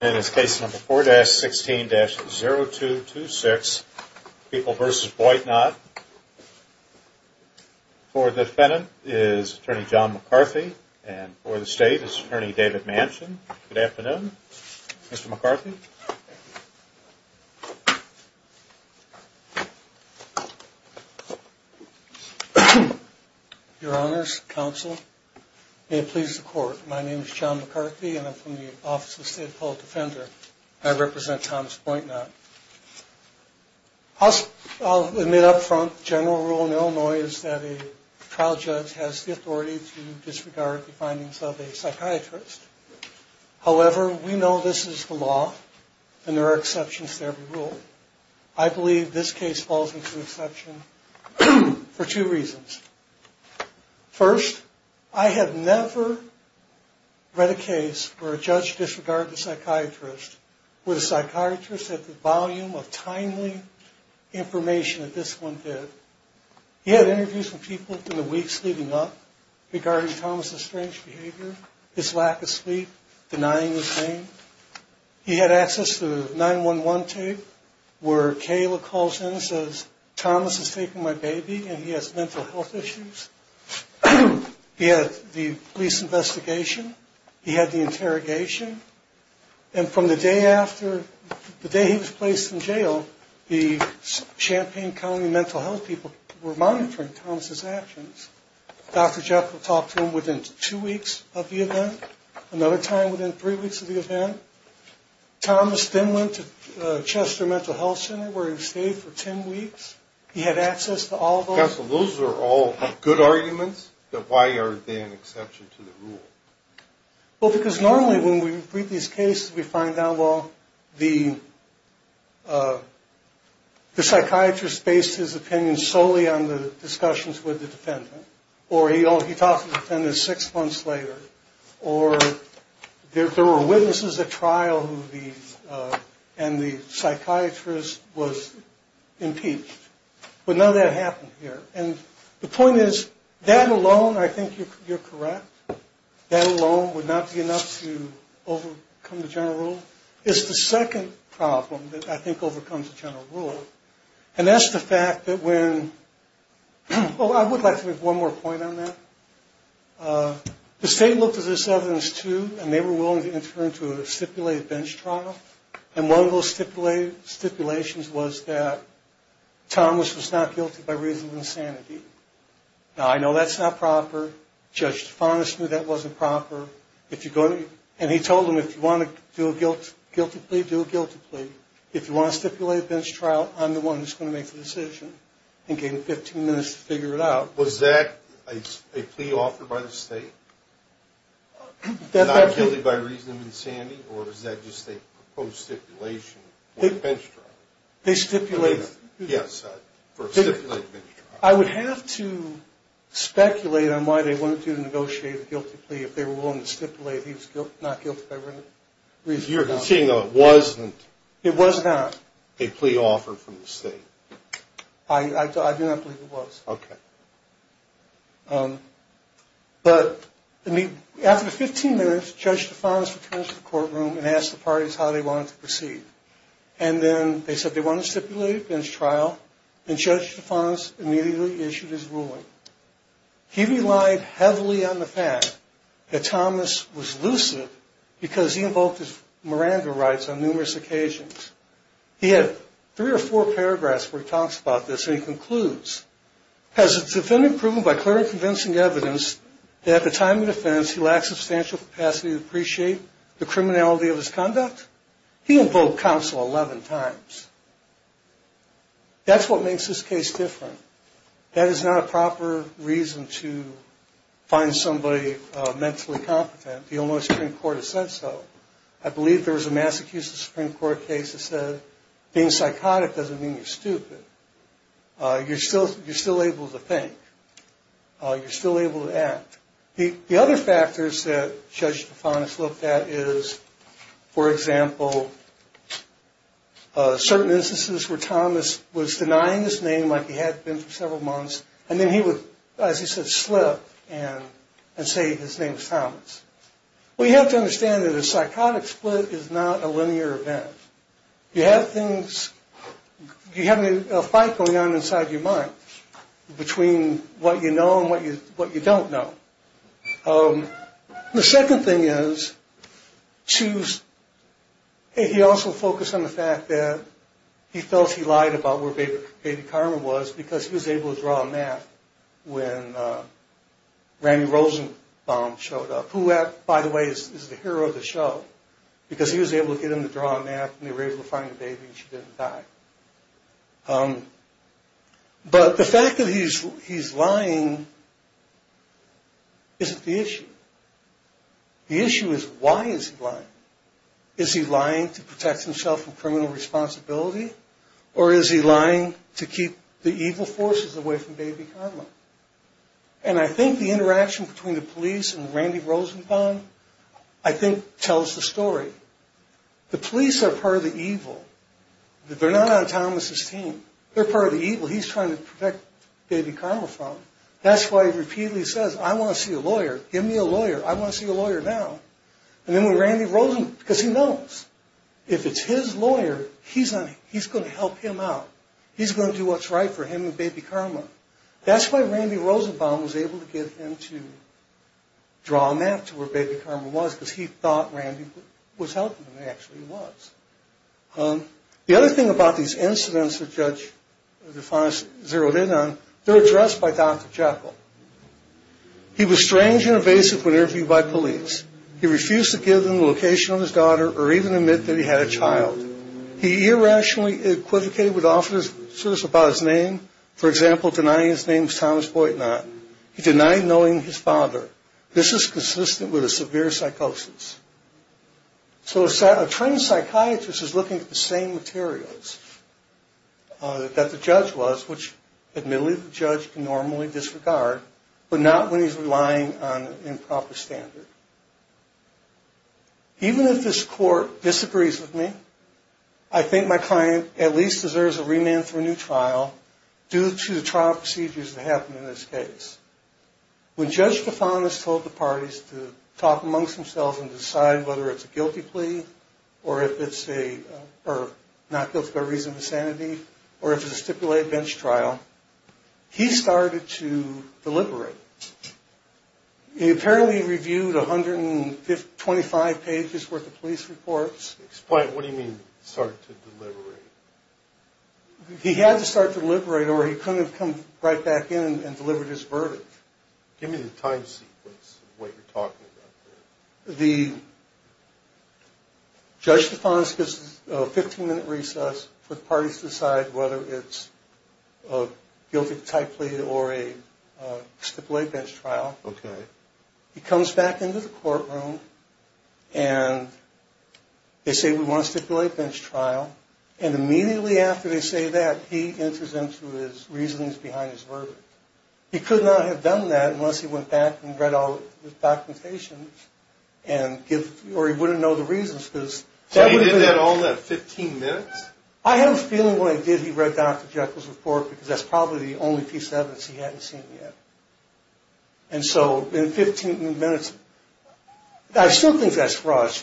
In this case number 4-16-0226, People v. Boitnott, for the defendant is attorney John McCarthy and for the state is attorney David Manchin. Good afternoon, Mr. McCarthy. Your honors, counsel, may it please the court, my name is John McCarthy and I'm from the Office of the State of Public Defender. I represent Thomas Boitnott. I'll admit up front, the general rule in Illinois is that a trial judge has the authority to disregard the findings of a psychiatrist. However, we know this is the law and there are exceptions to every rule. I believe this case falls into exception for two reasons. First, I have never read a case where a judge disregarded a psychiatrist with a psychiatrist at the volume of timely information that this one did. He had interviews with people in the weeks leading up regarding Thomas' strange behavior, his lack of sleep, denying his name. He had access to 911 tape where Kayla calls in and says, Thomas has taken my baby and he has mental health issues. He had the police investigation. He had the interrogation. And from the day after, the day he was placed in jail, the Champaign County mental health people were monitoring Thomas' actions. Dr. Jekyll talked to him within two weeks of the event, another time within three weeks of the event. Thomas then went to Chester Mental Health Center where he stayed for 10 weeks. He had access to all those. So, counsel, those are all good arguments, but why are they an exception to the rule? And the point is, that alone, I think you're correct, that alone would not be enough to overcome the general rule. It's the second problem that I think overcomes the general rule. And that's the fact that when, oh, I would like to make one more point on that. The state looked at this evidence, too, and they were willing to enter into a stipulated bench trial. And one of those stipulations was that Thomas was not guilty by reason of insanity. Now, I know that's not proper. Judge Tifanis knew that wasn't proper. And he told him, if you want to do a guilty plea, do a guilty plea. If you want a stipulated bench trial, I'm the one who's going to make the decision. And gave him 15 minutes to figure it out. Was that a plea offered by the state? Not guilty by reason of insanity? Or was that just a proposed stipulation for a bench trial? They stipulate. Yes, for a stipulated bench trial. I would have to speculate on why they wanted to negotiate a guilty plea if they were willing to stipulate he was not guilty by reason of insanity. You're saying it wasn't? It was not. A plea offered from the state. I do not believe it was. Okay. But after 15 minutes, Judge Tifanis returns to the courtroom and asks the parties how they wanted to proceed. And then they said they wanted a stipulated bench trial. And Judge Tifanis immediately issued his ruling. He relied heavily on the fact that Thomas was lucid because he invoked his Miranda rights on numerous occasions. He had three or four paragraphs where he talks about this. And he concludes, has the defendant proven by clear and convincing evidence that at the time of defense he lacked substantial capacity to appreciate the criminality of his conduct? He invoked counsel 11 times. That's what makes this case different. That is not a proper reason to find somebody mentally competent. The Illinois Supreme Court has said so. I believe there was a Massachusetts Supreme Court case that said being psychotic doesn't mean you're stupid. You're still able to think. You're still able to act. The other factors that Judge Tifanis looked at is, for example, certain instances where Thomas was denying his name like he had been for several months. And then he would, as he said, slip and say his name was Thomas. Well, you have to understand that a psychotic split is not a linear event. You have things, you have a fight going on inside your mind between what you know and what you don't know. The second thing is, he also focused on the fact that he felt he lied about where Baby Carmen was because he was able to draw a map when Randy Rosenbaum showed up, who, by the way, is the hero of the show, because he was able to get him to draw a map and they were able to find the baby and she didn't die. But the fact that he's lying isn't the issue. The issue is, why is he lying? Is he lying to protect himself from criminal responsibility or is he lying to keep the evil forces away from Baby Carmen? And I think the interaction between the police and Randy Rosenbaum, I think, tells the story. The police are part of the evil. They're not on Thomas' team. They're part of the evil he's trying to protect Baby Carmen from. That's why he repeatedly says, I want to see a lawyer. Give me a lawyer. I want to see a lawyer now. And then when Randy Rosenbaum, because he knows. If it's his lawyer, he's going to help him out. He's going to do what's right for him and Baby Carmen. That's why Randy Rosenbaum was able to get him to draw a map to where Baby Carmen was, because he thought Randy was helping him. And he actually was. The other thing about these incidents that Judge DeFonis zeroed in on, they're addressed by Dr. Jekyll. He was strange and evasive when interviewed by police. He refused to give them the location of his daughter or even admit that he had a child. He irrationally equivocated with officers about his name. For example, denying his name was Thomas Boitnott. He denied knowing his father. This is consistent with a severe psychosis. So a trained psychiatrist is looking at the same materials that the judge was, which admittedly the judge can normally disregard, but not when he's relying on improper standard. Even if this court disagrees with me, I think my client at least deserves a remand for a new trial due to the trial procedures that happened in this case. When Judge DeFonis told the parties to talk amongst themselves and decide whether it's a guilty plea or if it's not guilty by reason of insanity or if it's a stipulated bench trial, he started to deliberate. He apparently reviewed 125 pages worth of police reports. Explain, what do you mean, started to deliberate? He had to start to deliberate or he couldn't have come right back in and delivered his verdict. Give me the time sequence of what you're talking about here. The Judge DeFonis gives a 15-minute recess for the parties to decide whether it's a guilty type plea or a stipulated bench trial. Okay. He comes back into the courtroom and they say, we want a stipulated bench trial. And immediately after they say that, he enters into his reasonings behind his verdict. He could not have done that unless he went back and read all the documentation or he wouldn't know the reasons. So he did that all in 15 minutes? I have a feeling when he did, he read Dr. Jekyll's report because that's probably the only piece of evidence he hadn't seen yet. And so in 15 minutes, I still think that's fraud.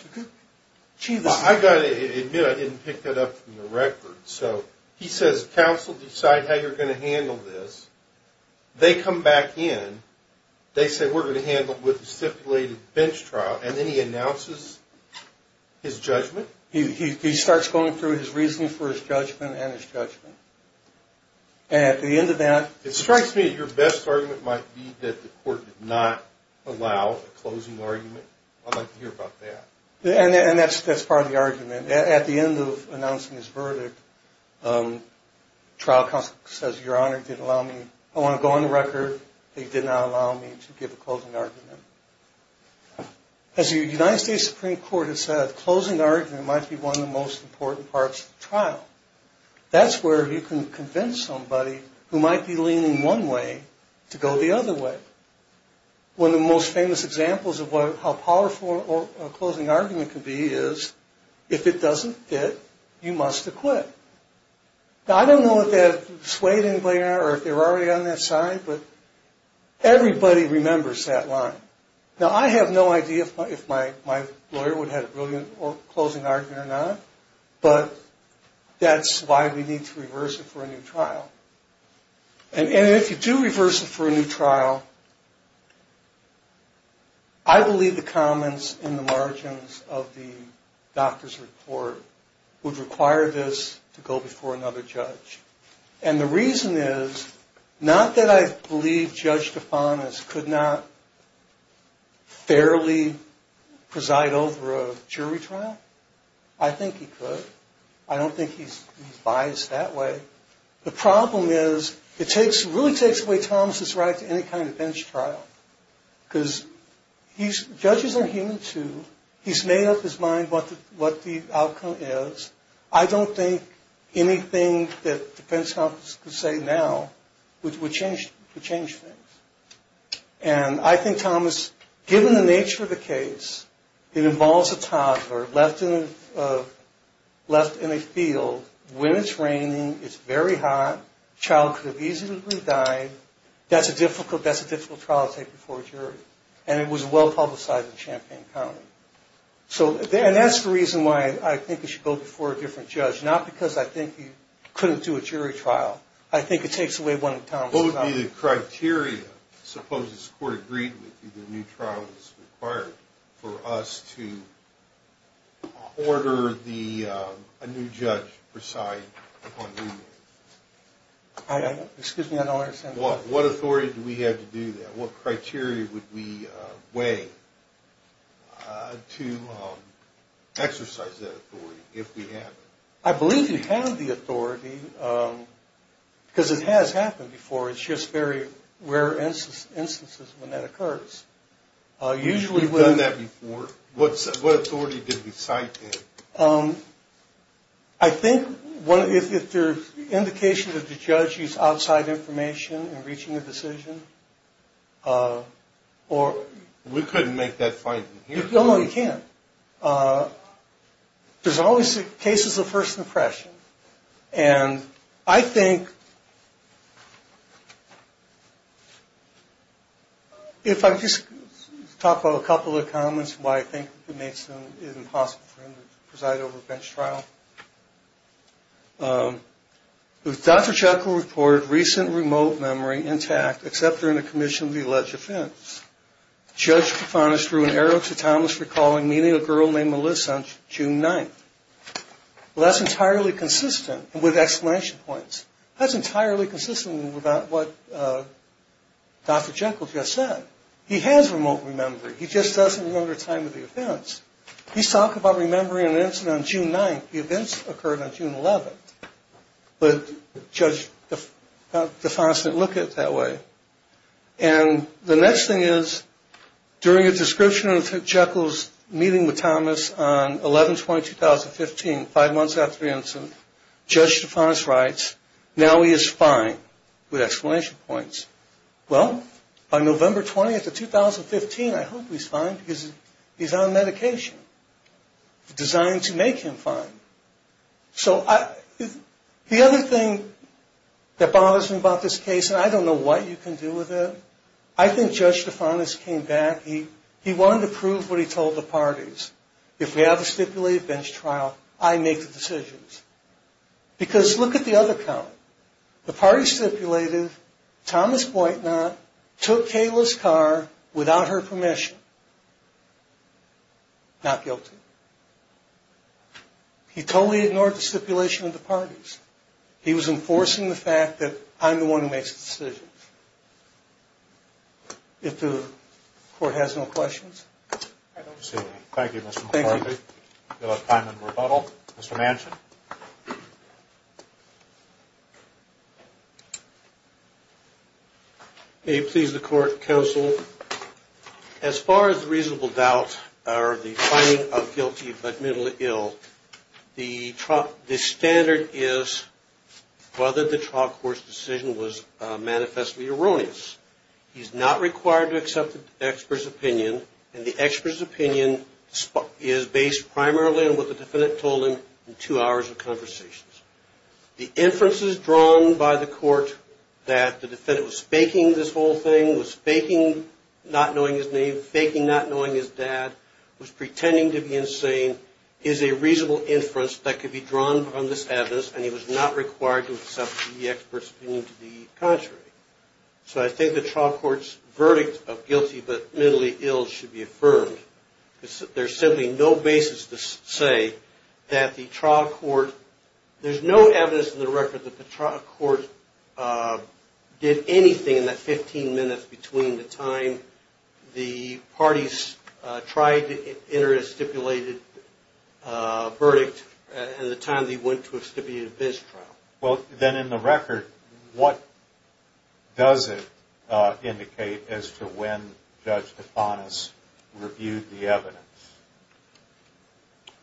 Well, I've got to admit I didn't pick that up from the record. So he says, counsel, decide how you're going to handle this. They come back in. They say, we're going to handle it with a stipulated bench trial. And then he announces his judgment. He starts going through his reasoning for his judgment and his judgment. And at the end of that... It strikes me that your best argument might be that the court did not allow a closing argument. I'd like to hear about that. And that's part of the argument. At the end of announcing his verdict, trial counsel says, Your Honor, he didn't allow me. I want to go on the record. He did not allow me to give a closing argument. As the United States Supreme Court has said, closing the argument might be one of the most important parts of the trial. That's where you can convince somebody who might be leaning one way to go the other way. One of the most famous examples of how powerful a closing argument can be is, if it doesn't fit, you must acquit. Now, I don't know if that swayed anybody or if they were already on that side, but everybody remembers that line. Now, I have no idea if my lawyer would have had a brilliant closing argument or not, but that's why we need to reverse it for a new trial. And if you do reverse it for a new trial, I believe the comments in the margins of the doctor's report would require this to go before another judge. And the reason is not that I believe Judge Tifanis could not fairly preside over a jury trial. I think he could. I don't think he's biased that way. The problem is it really takes away Thomas' right to any kind of bench trial, because judges are human, too. He's made up his mind what the outcome is. I don't think anything that the defense counsel could say now would change things. And I think, Thomas, given the nature of the case, it involves a toddler left in a field when it's raining, it's very hot, the child could have easily died. That's a difficult trial to take before a jury. And it was well-publicized in Champaign County. And that's the reason why I think it should go before a different judge, not because I think he couldn't do a jury trial. I think it takes away one of Thomas' comments. What would be the criteria, supposes the court agreed with you the new trial is required, for us to order a new judge preside upon remand? Excuse me, I don't understand. What authority do we have to do that? What criteria would we weigh to exercise that authority if we have it? I believe you have the authority, because it has happened before. It's just very rare instances when that occurs. We've done that before. What authority did we cite there? I think if there's indication that the judge used outside information in reaching a decision. We couldn't make that finding here. No, no, you can't. There's always cases of first impression. And I think, if I could just talk about a couple of comments, why I think it makes it impossible for him to preside over a bench trial. Dr. Jekyll reported recent remote memory intact except during the commission of the alleged offense. Judge Kifanis drew an arrow to Thomas recalling meeting a girl named Melissa on June 9th. Well, that's entirely consistent with exclamation points. That's entirely consistent with what Dr. Jekyll just said. He has remote memory. He just doesn't remember the time of the offense. He's talking about remembering an incident on June 9th. The events occurred on June 11th. But Judge Kifanis didn't look at it that way. And the next thing is, during a description of Dr. Jekyll's meeting with Thomas on 11-20-2015, five months after the incident, Judge Kifanis writes, now he is fine with exclamation points. Well, on November 20th of 2015, I hope he's fine because he's on medication designed to make him fine. So the other thing that bothers me about this case, and I don't know what you can do with it, I think Judge Kifanis came back. He wanted to prove what he told the parties. If we have a stipulated bench trial, I make the decisions. Because look at the other count. The parties stipulated Thomas Boytnot took Kayla's car without her permission. Not guilty. He totally ignored the stipulation of the parties. He was enforcing the fact that I'm the one who makes the decisions. If the court has no questions. I don't see any. Thank you, Mr. McCarthy. Thank you. We'll have time in rebuttal. Mr. Manchin. May it please the court, counsel. As far as reasonable doubt or the finding of guilty but minimally ill, the standard is whether the trial court's decision was manifestly erroneous. He's not required to accept the expert's opinion. And the expert's opinion is based primarily on what the defendant told him in two hours of conversations. The inferences drawn by the court that the defendant was faking this whole thing, was faking not knowing his name, faking not knowing his dad, was pretending to be insane, is a reasonable inference that could be drawn from this evidence, and he was not required to accept the expert's opinion to be contrary. So I think the trial court's verdict of guilty but minimally ill should be affirmed. There's simply no basis to say that the trial court, there's no evidence in the record that the trial court did anything in that 15 minutes between the time the parties tried to enter a stipulated verdict and the time they went to a stipulated bench trial. Well, then in the record, what does it indicate as to when Judge Tithonis reviewed the evidence?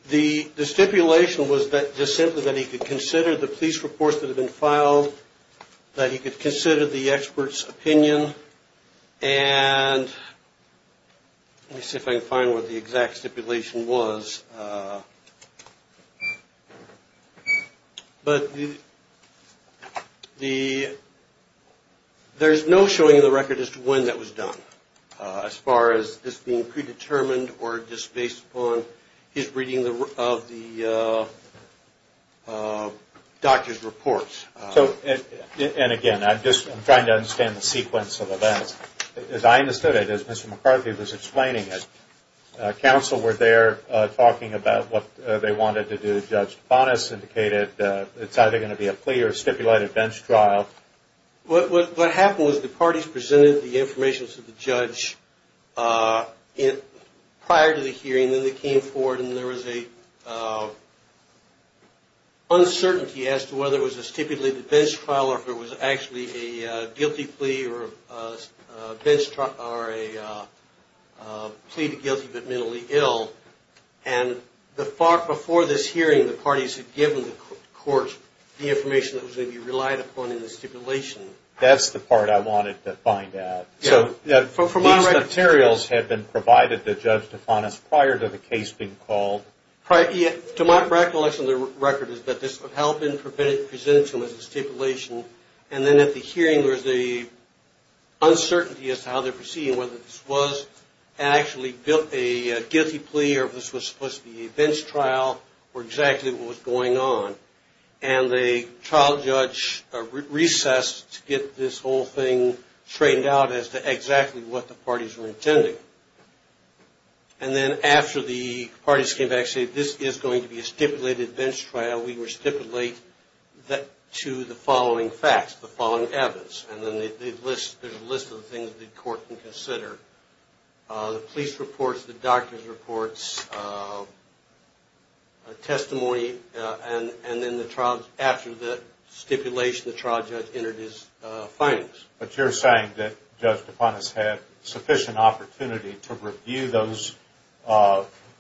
The stipulation was just simply that he could consider the police reports that had been filed, that he could consider the expert's opinion, and let me see if I can find what the exact stipulation was. But there's no showing in the record as to when that was done, as far as this being predetermined or just based upon his reading of the doctor's reports. And again, I'm just trying to understand the sequence of events. As I understood it, as Mr. McCarthy was explaining it, counsel were there talking about what they wanted to do. Judge Tithonis indicated it's either going to be a plea or a stipulated bench trial. What happened was the parties presented the information to the judge prior to the hearing, and then they came forward and there was an uncertainty as to whether it was a stipulated bench trial or if it was actually a guilty plea or a plea to guilty but mentally ill. And before this hearing, the parties had given the courts the information that was going to be relied upon in the stipulation. That's the part I wanted to find out. So these materials had been provided to Judge Tithonis prior to the case being called? To my recollection of the record is that this had been presented to him as a stipulation, and then at the hearing there was an uncertainty as to how they were proceeding, whether this was actually a guilty plea or if this was supposed to be a bench trial or exactly what was going on. And the trial judge recessed to get this whole thing straightened out as to exactly what the parties were intending. And then after the parties came back and said this is going to be a stipulated bench trial, we would stipulate that to the following facts, the following evidence. And then there's a list of the things the court can consider. The police reports, the doctor's reports, testimony, and then after the stipulation, the trial judge entered his findings. But you're saying that Judge Tithonis had sufficient opportunity to review those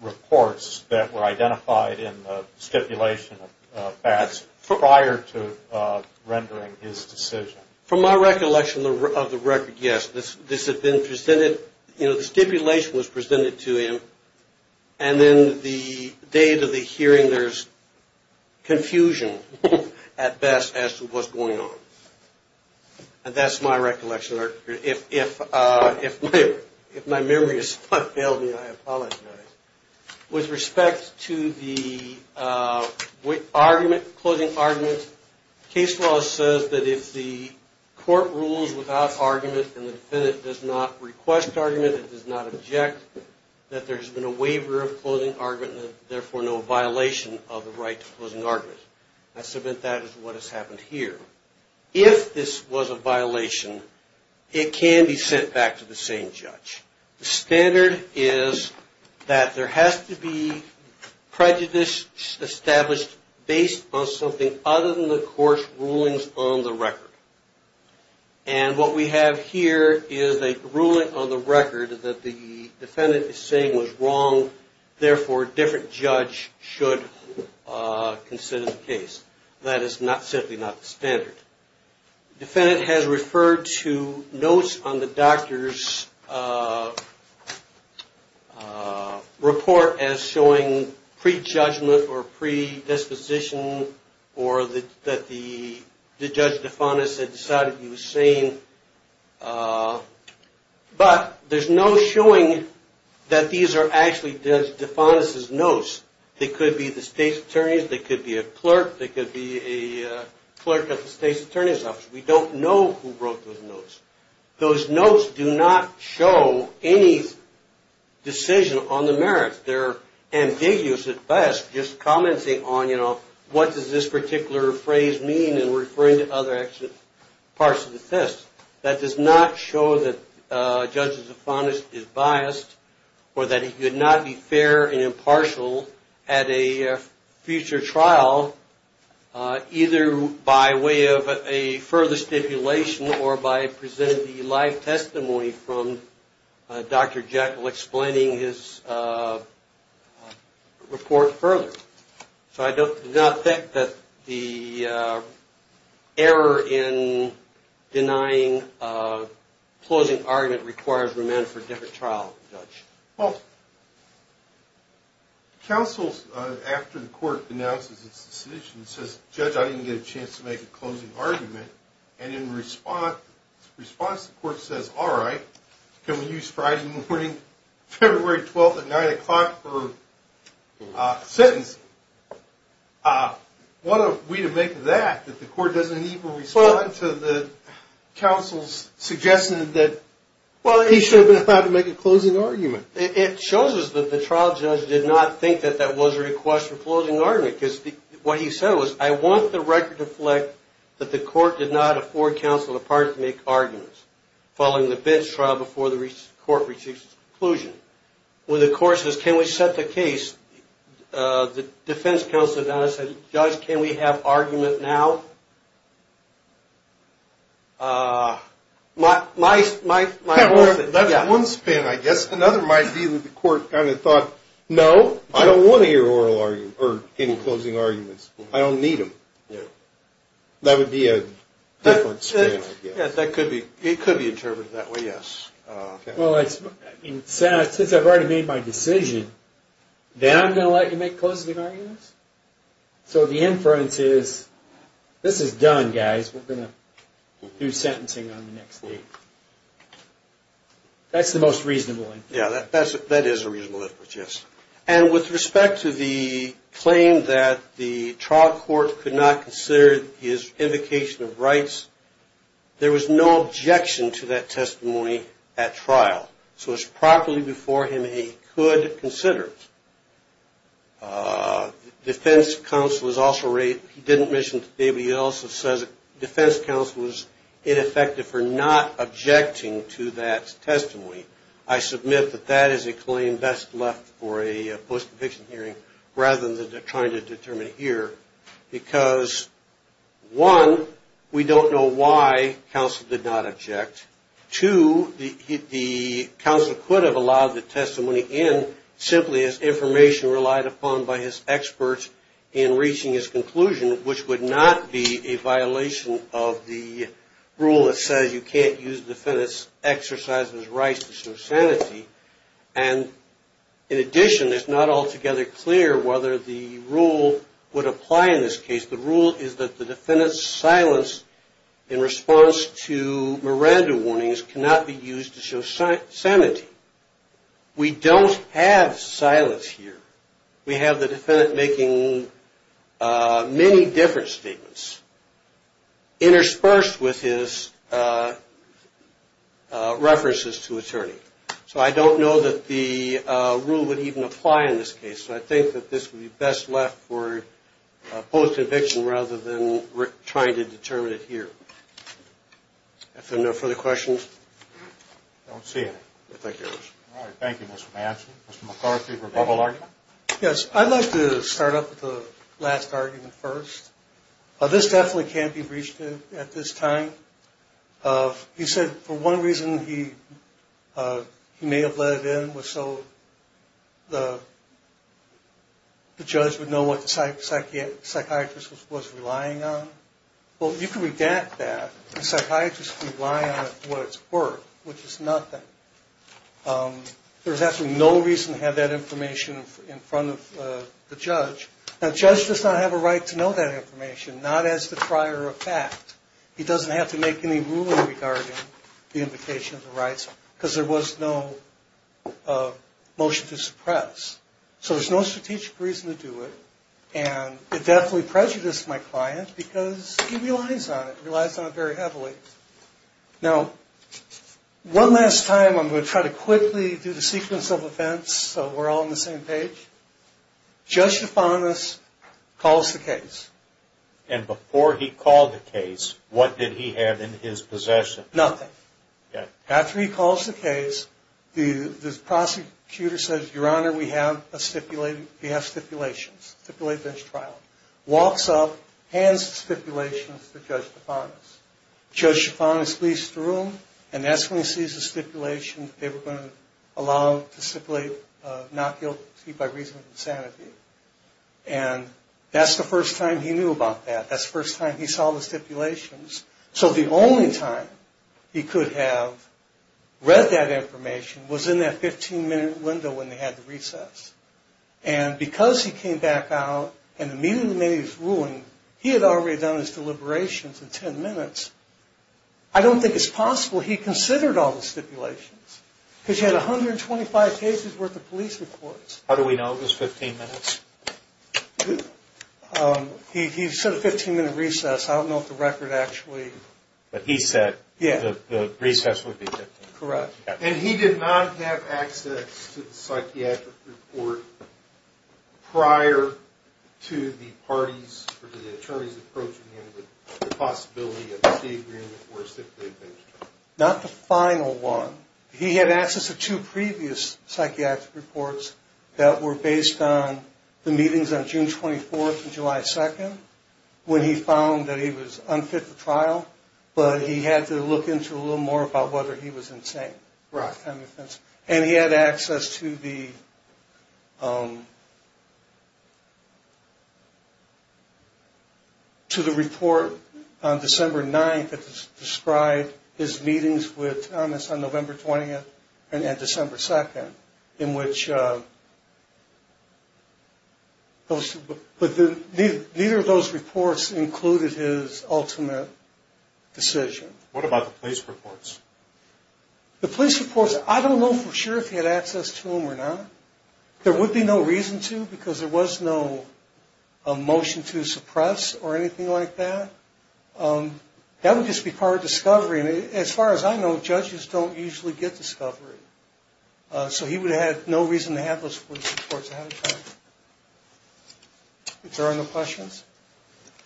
reports that were identified in the stipulation of Bass prior to rendering his decision? From my recollection of the record, yes. This had been presented, you know, the stipulation was presented to him, and then the day of the hearing there's confusion at Bass as to what's going on. And that's my recollection. If my memory has failed me, I apologize. With respect to the closing argument, case law says that if the court rules without argument and the defendant does not request argument, does not object, that there's been a waiver of closing argument and therefore no violation of the right to closing argument. I submit that is what has happened here. If this was a violation, it can be sent back to the same judge. The standard is that there has to be prejudice established based on something other than the court's rulings on the record. And what we have here is a ruling on the record that the defendant is saying was wrong, therefore a different judge should consider the case. That is simply not the standard. The defendant has referred to notes on the doctor's report as showing prejudgment or predisposition or that the judge defined as decided he was sane. But there's no showing that these are actually defined as notes. They could be the state's attorneys. They could be a clerk. They could be a clerk at the state's attorney's office. We don't know who wrote those notes. Those notes do not show any decision on the merits. They're ambiguous at best, just commenting on what does this particular phrase mean and referring to other parts of the test. That does not show that Judge Zafonis is biased or that he could not be fair and impartial at a future trial either by way of a further stipulation or by presenting the live testimony from Dr. Jekyll explaining his report further. So I do not think that the error in denying a closing argument requires remand for a different trial, Judge. Well, counsel, after the court announces its decision, says, Judge, I didn't get a chance to make a closing argument. And in response, the court says, all right, can we use Friday morning, February 12th at 9 o'clock for sentencing. What are we to make of that, that the court doesn't even respond to the counsel's suggestion that he should have been allowed to make a closing argument? It shows us that the trial judge did not think that that was a request for closing argument because what he said was, I want the record to reflect that the court did not afford counsel the part to make arguments following the BITS trial before the court reached its conclusion. When the court says, can we set the case, the defense counsel said, Judge, can we have argument now? That's one spin, I guess. Another might be that the court kind of thought, no, I don't want to hear any closing arguments. I don't need them. That would be a different spin, I guess. It could be interpreted that way, yes. Well, since I've already made my decision, then I'm going to let you make closing arguments? So the inference is, this is done, guys. We're going to do sentencing on the next date. That's the most reasonable inference. Yeah, that is a reasonable inference, yes. And with respect to the claim that the trial court could not consider his invocation of rights, there was no objection to that testimony at trial. So it was properly before him that he could consider it. Defense counsel was also right. He didn't mention it to anybody else. It says defense counsel was ineffective for not objecting to that testimony. I submit that that is a claim best left for a post-conviction hearing rather than trying to determine it here, because, one, we don't know why counsel did not object. Two, the counsel could have allowed the testimony in simply as information relied upon by his experts in reaching his conclusion, which would not be a violation of the rule that says you can't use defendant's exercise of his rights to show sanity. And, in addition, it's not altogether clear whether the rule would apply in this case. The rule is that the defendant's silence in response to Miranda warnings cannot be used to show sanity. We don't have silence here. We have the defendant making many different statements interspersed with his references to attorney. So I don't know that the rule would even apply in this case. So I think that this would be best left for a post-conviction rather than trying to determine it here. Are there no further questions? I don't see any. I think there is. All right. Thank you, Mr. Manson. Mr. McCarthy for a double argument. Yes. I'd like to start off with the last argument first. This definitely can't be breached at this time. You said for one reason he may have let it in was so the judge would know what the psychiatrist was relying on. Well, you can redact that. The psychiatrist can rely on what it's worth, which is nothing. There's absolutely no reason to have that information in front of the judge. Now, the judge does not have a right to know that information, not as the trier of fact. He doesn't have to make any ruling regarding the invocation of the rights because there was no motion to suppress. So there's no strategic reason to do it. And it definitely prejudiced my client because he relies on it, relies on it very heavily. Now, one last time I'm going to try to quickly do the sequence of events so we're all on the same page. Judge DeFantis calls the case. And before he called the case, what did he have in his possession? Nothing. After he calls the case, the prosecutor says, Your Honor, we have stipulations. Stipulate, finish trial. Walks up, hands the stipulations to Judge DeFantis. Judge DeFantis leaves the room, and that's when he sees the stipulation. They were going to allow him to stipulate not guilty by reason of insanity. And that's the first time he knew about that. That's the first time he saw the stipulations. So the only time he could have read that information was in that 15-minute window when they had the recess. And because he came back out and immediately made his ruling, he had already done his deliberations in 10 minutes. I don't think it's possible he considered all the stipulations because he had 125 cases worth of police reports. How do we know it was 15 minutes? He said a 15-minute recess. I don't know if the record actually... But he said the recess would be 15 minutes. Correct. And he did not have access to the psychiatric report prior to the parties or the attorneys approaching him with the possibility of a state agreement for a stipulated bench trial. Not the final one. He had access to two previous psychiatric reports that were based on the meetings on June 24th and July 2nd when he found that he was unfit for trial, but he had to look into a little more about whether he was insane. And he had access to the report on December 9th that described his meetings with Thomas on November 20th and December 2nd. But neither of those reports included his ultimate decision. What about the police reports? The police reports, I don't know for sure if he had access to them or not. There would be no reason to because there was no motion to suppress or anything like that. That would just be part of discovery. As far as I know, judges don't usually get discovery. So he would have no reason to have those police reports. Is there any questions?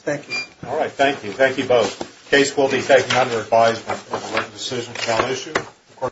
Thank you. All right. Thank you. Thank you both. The case will be taken under advisement. The decision is now issued.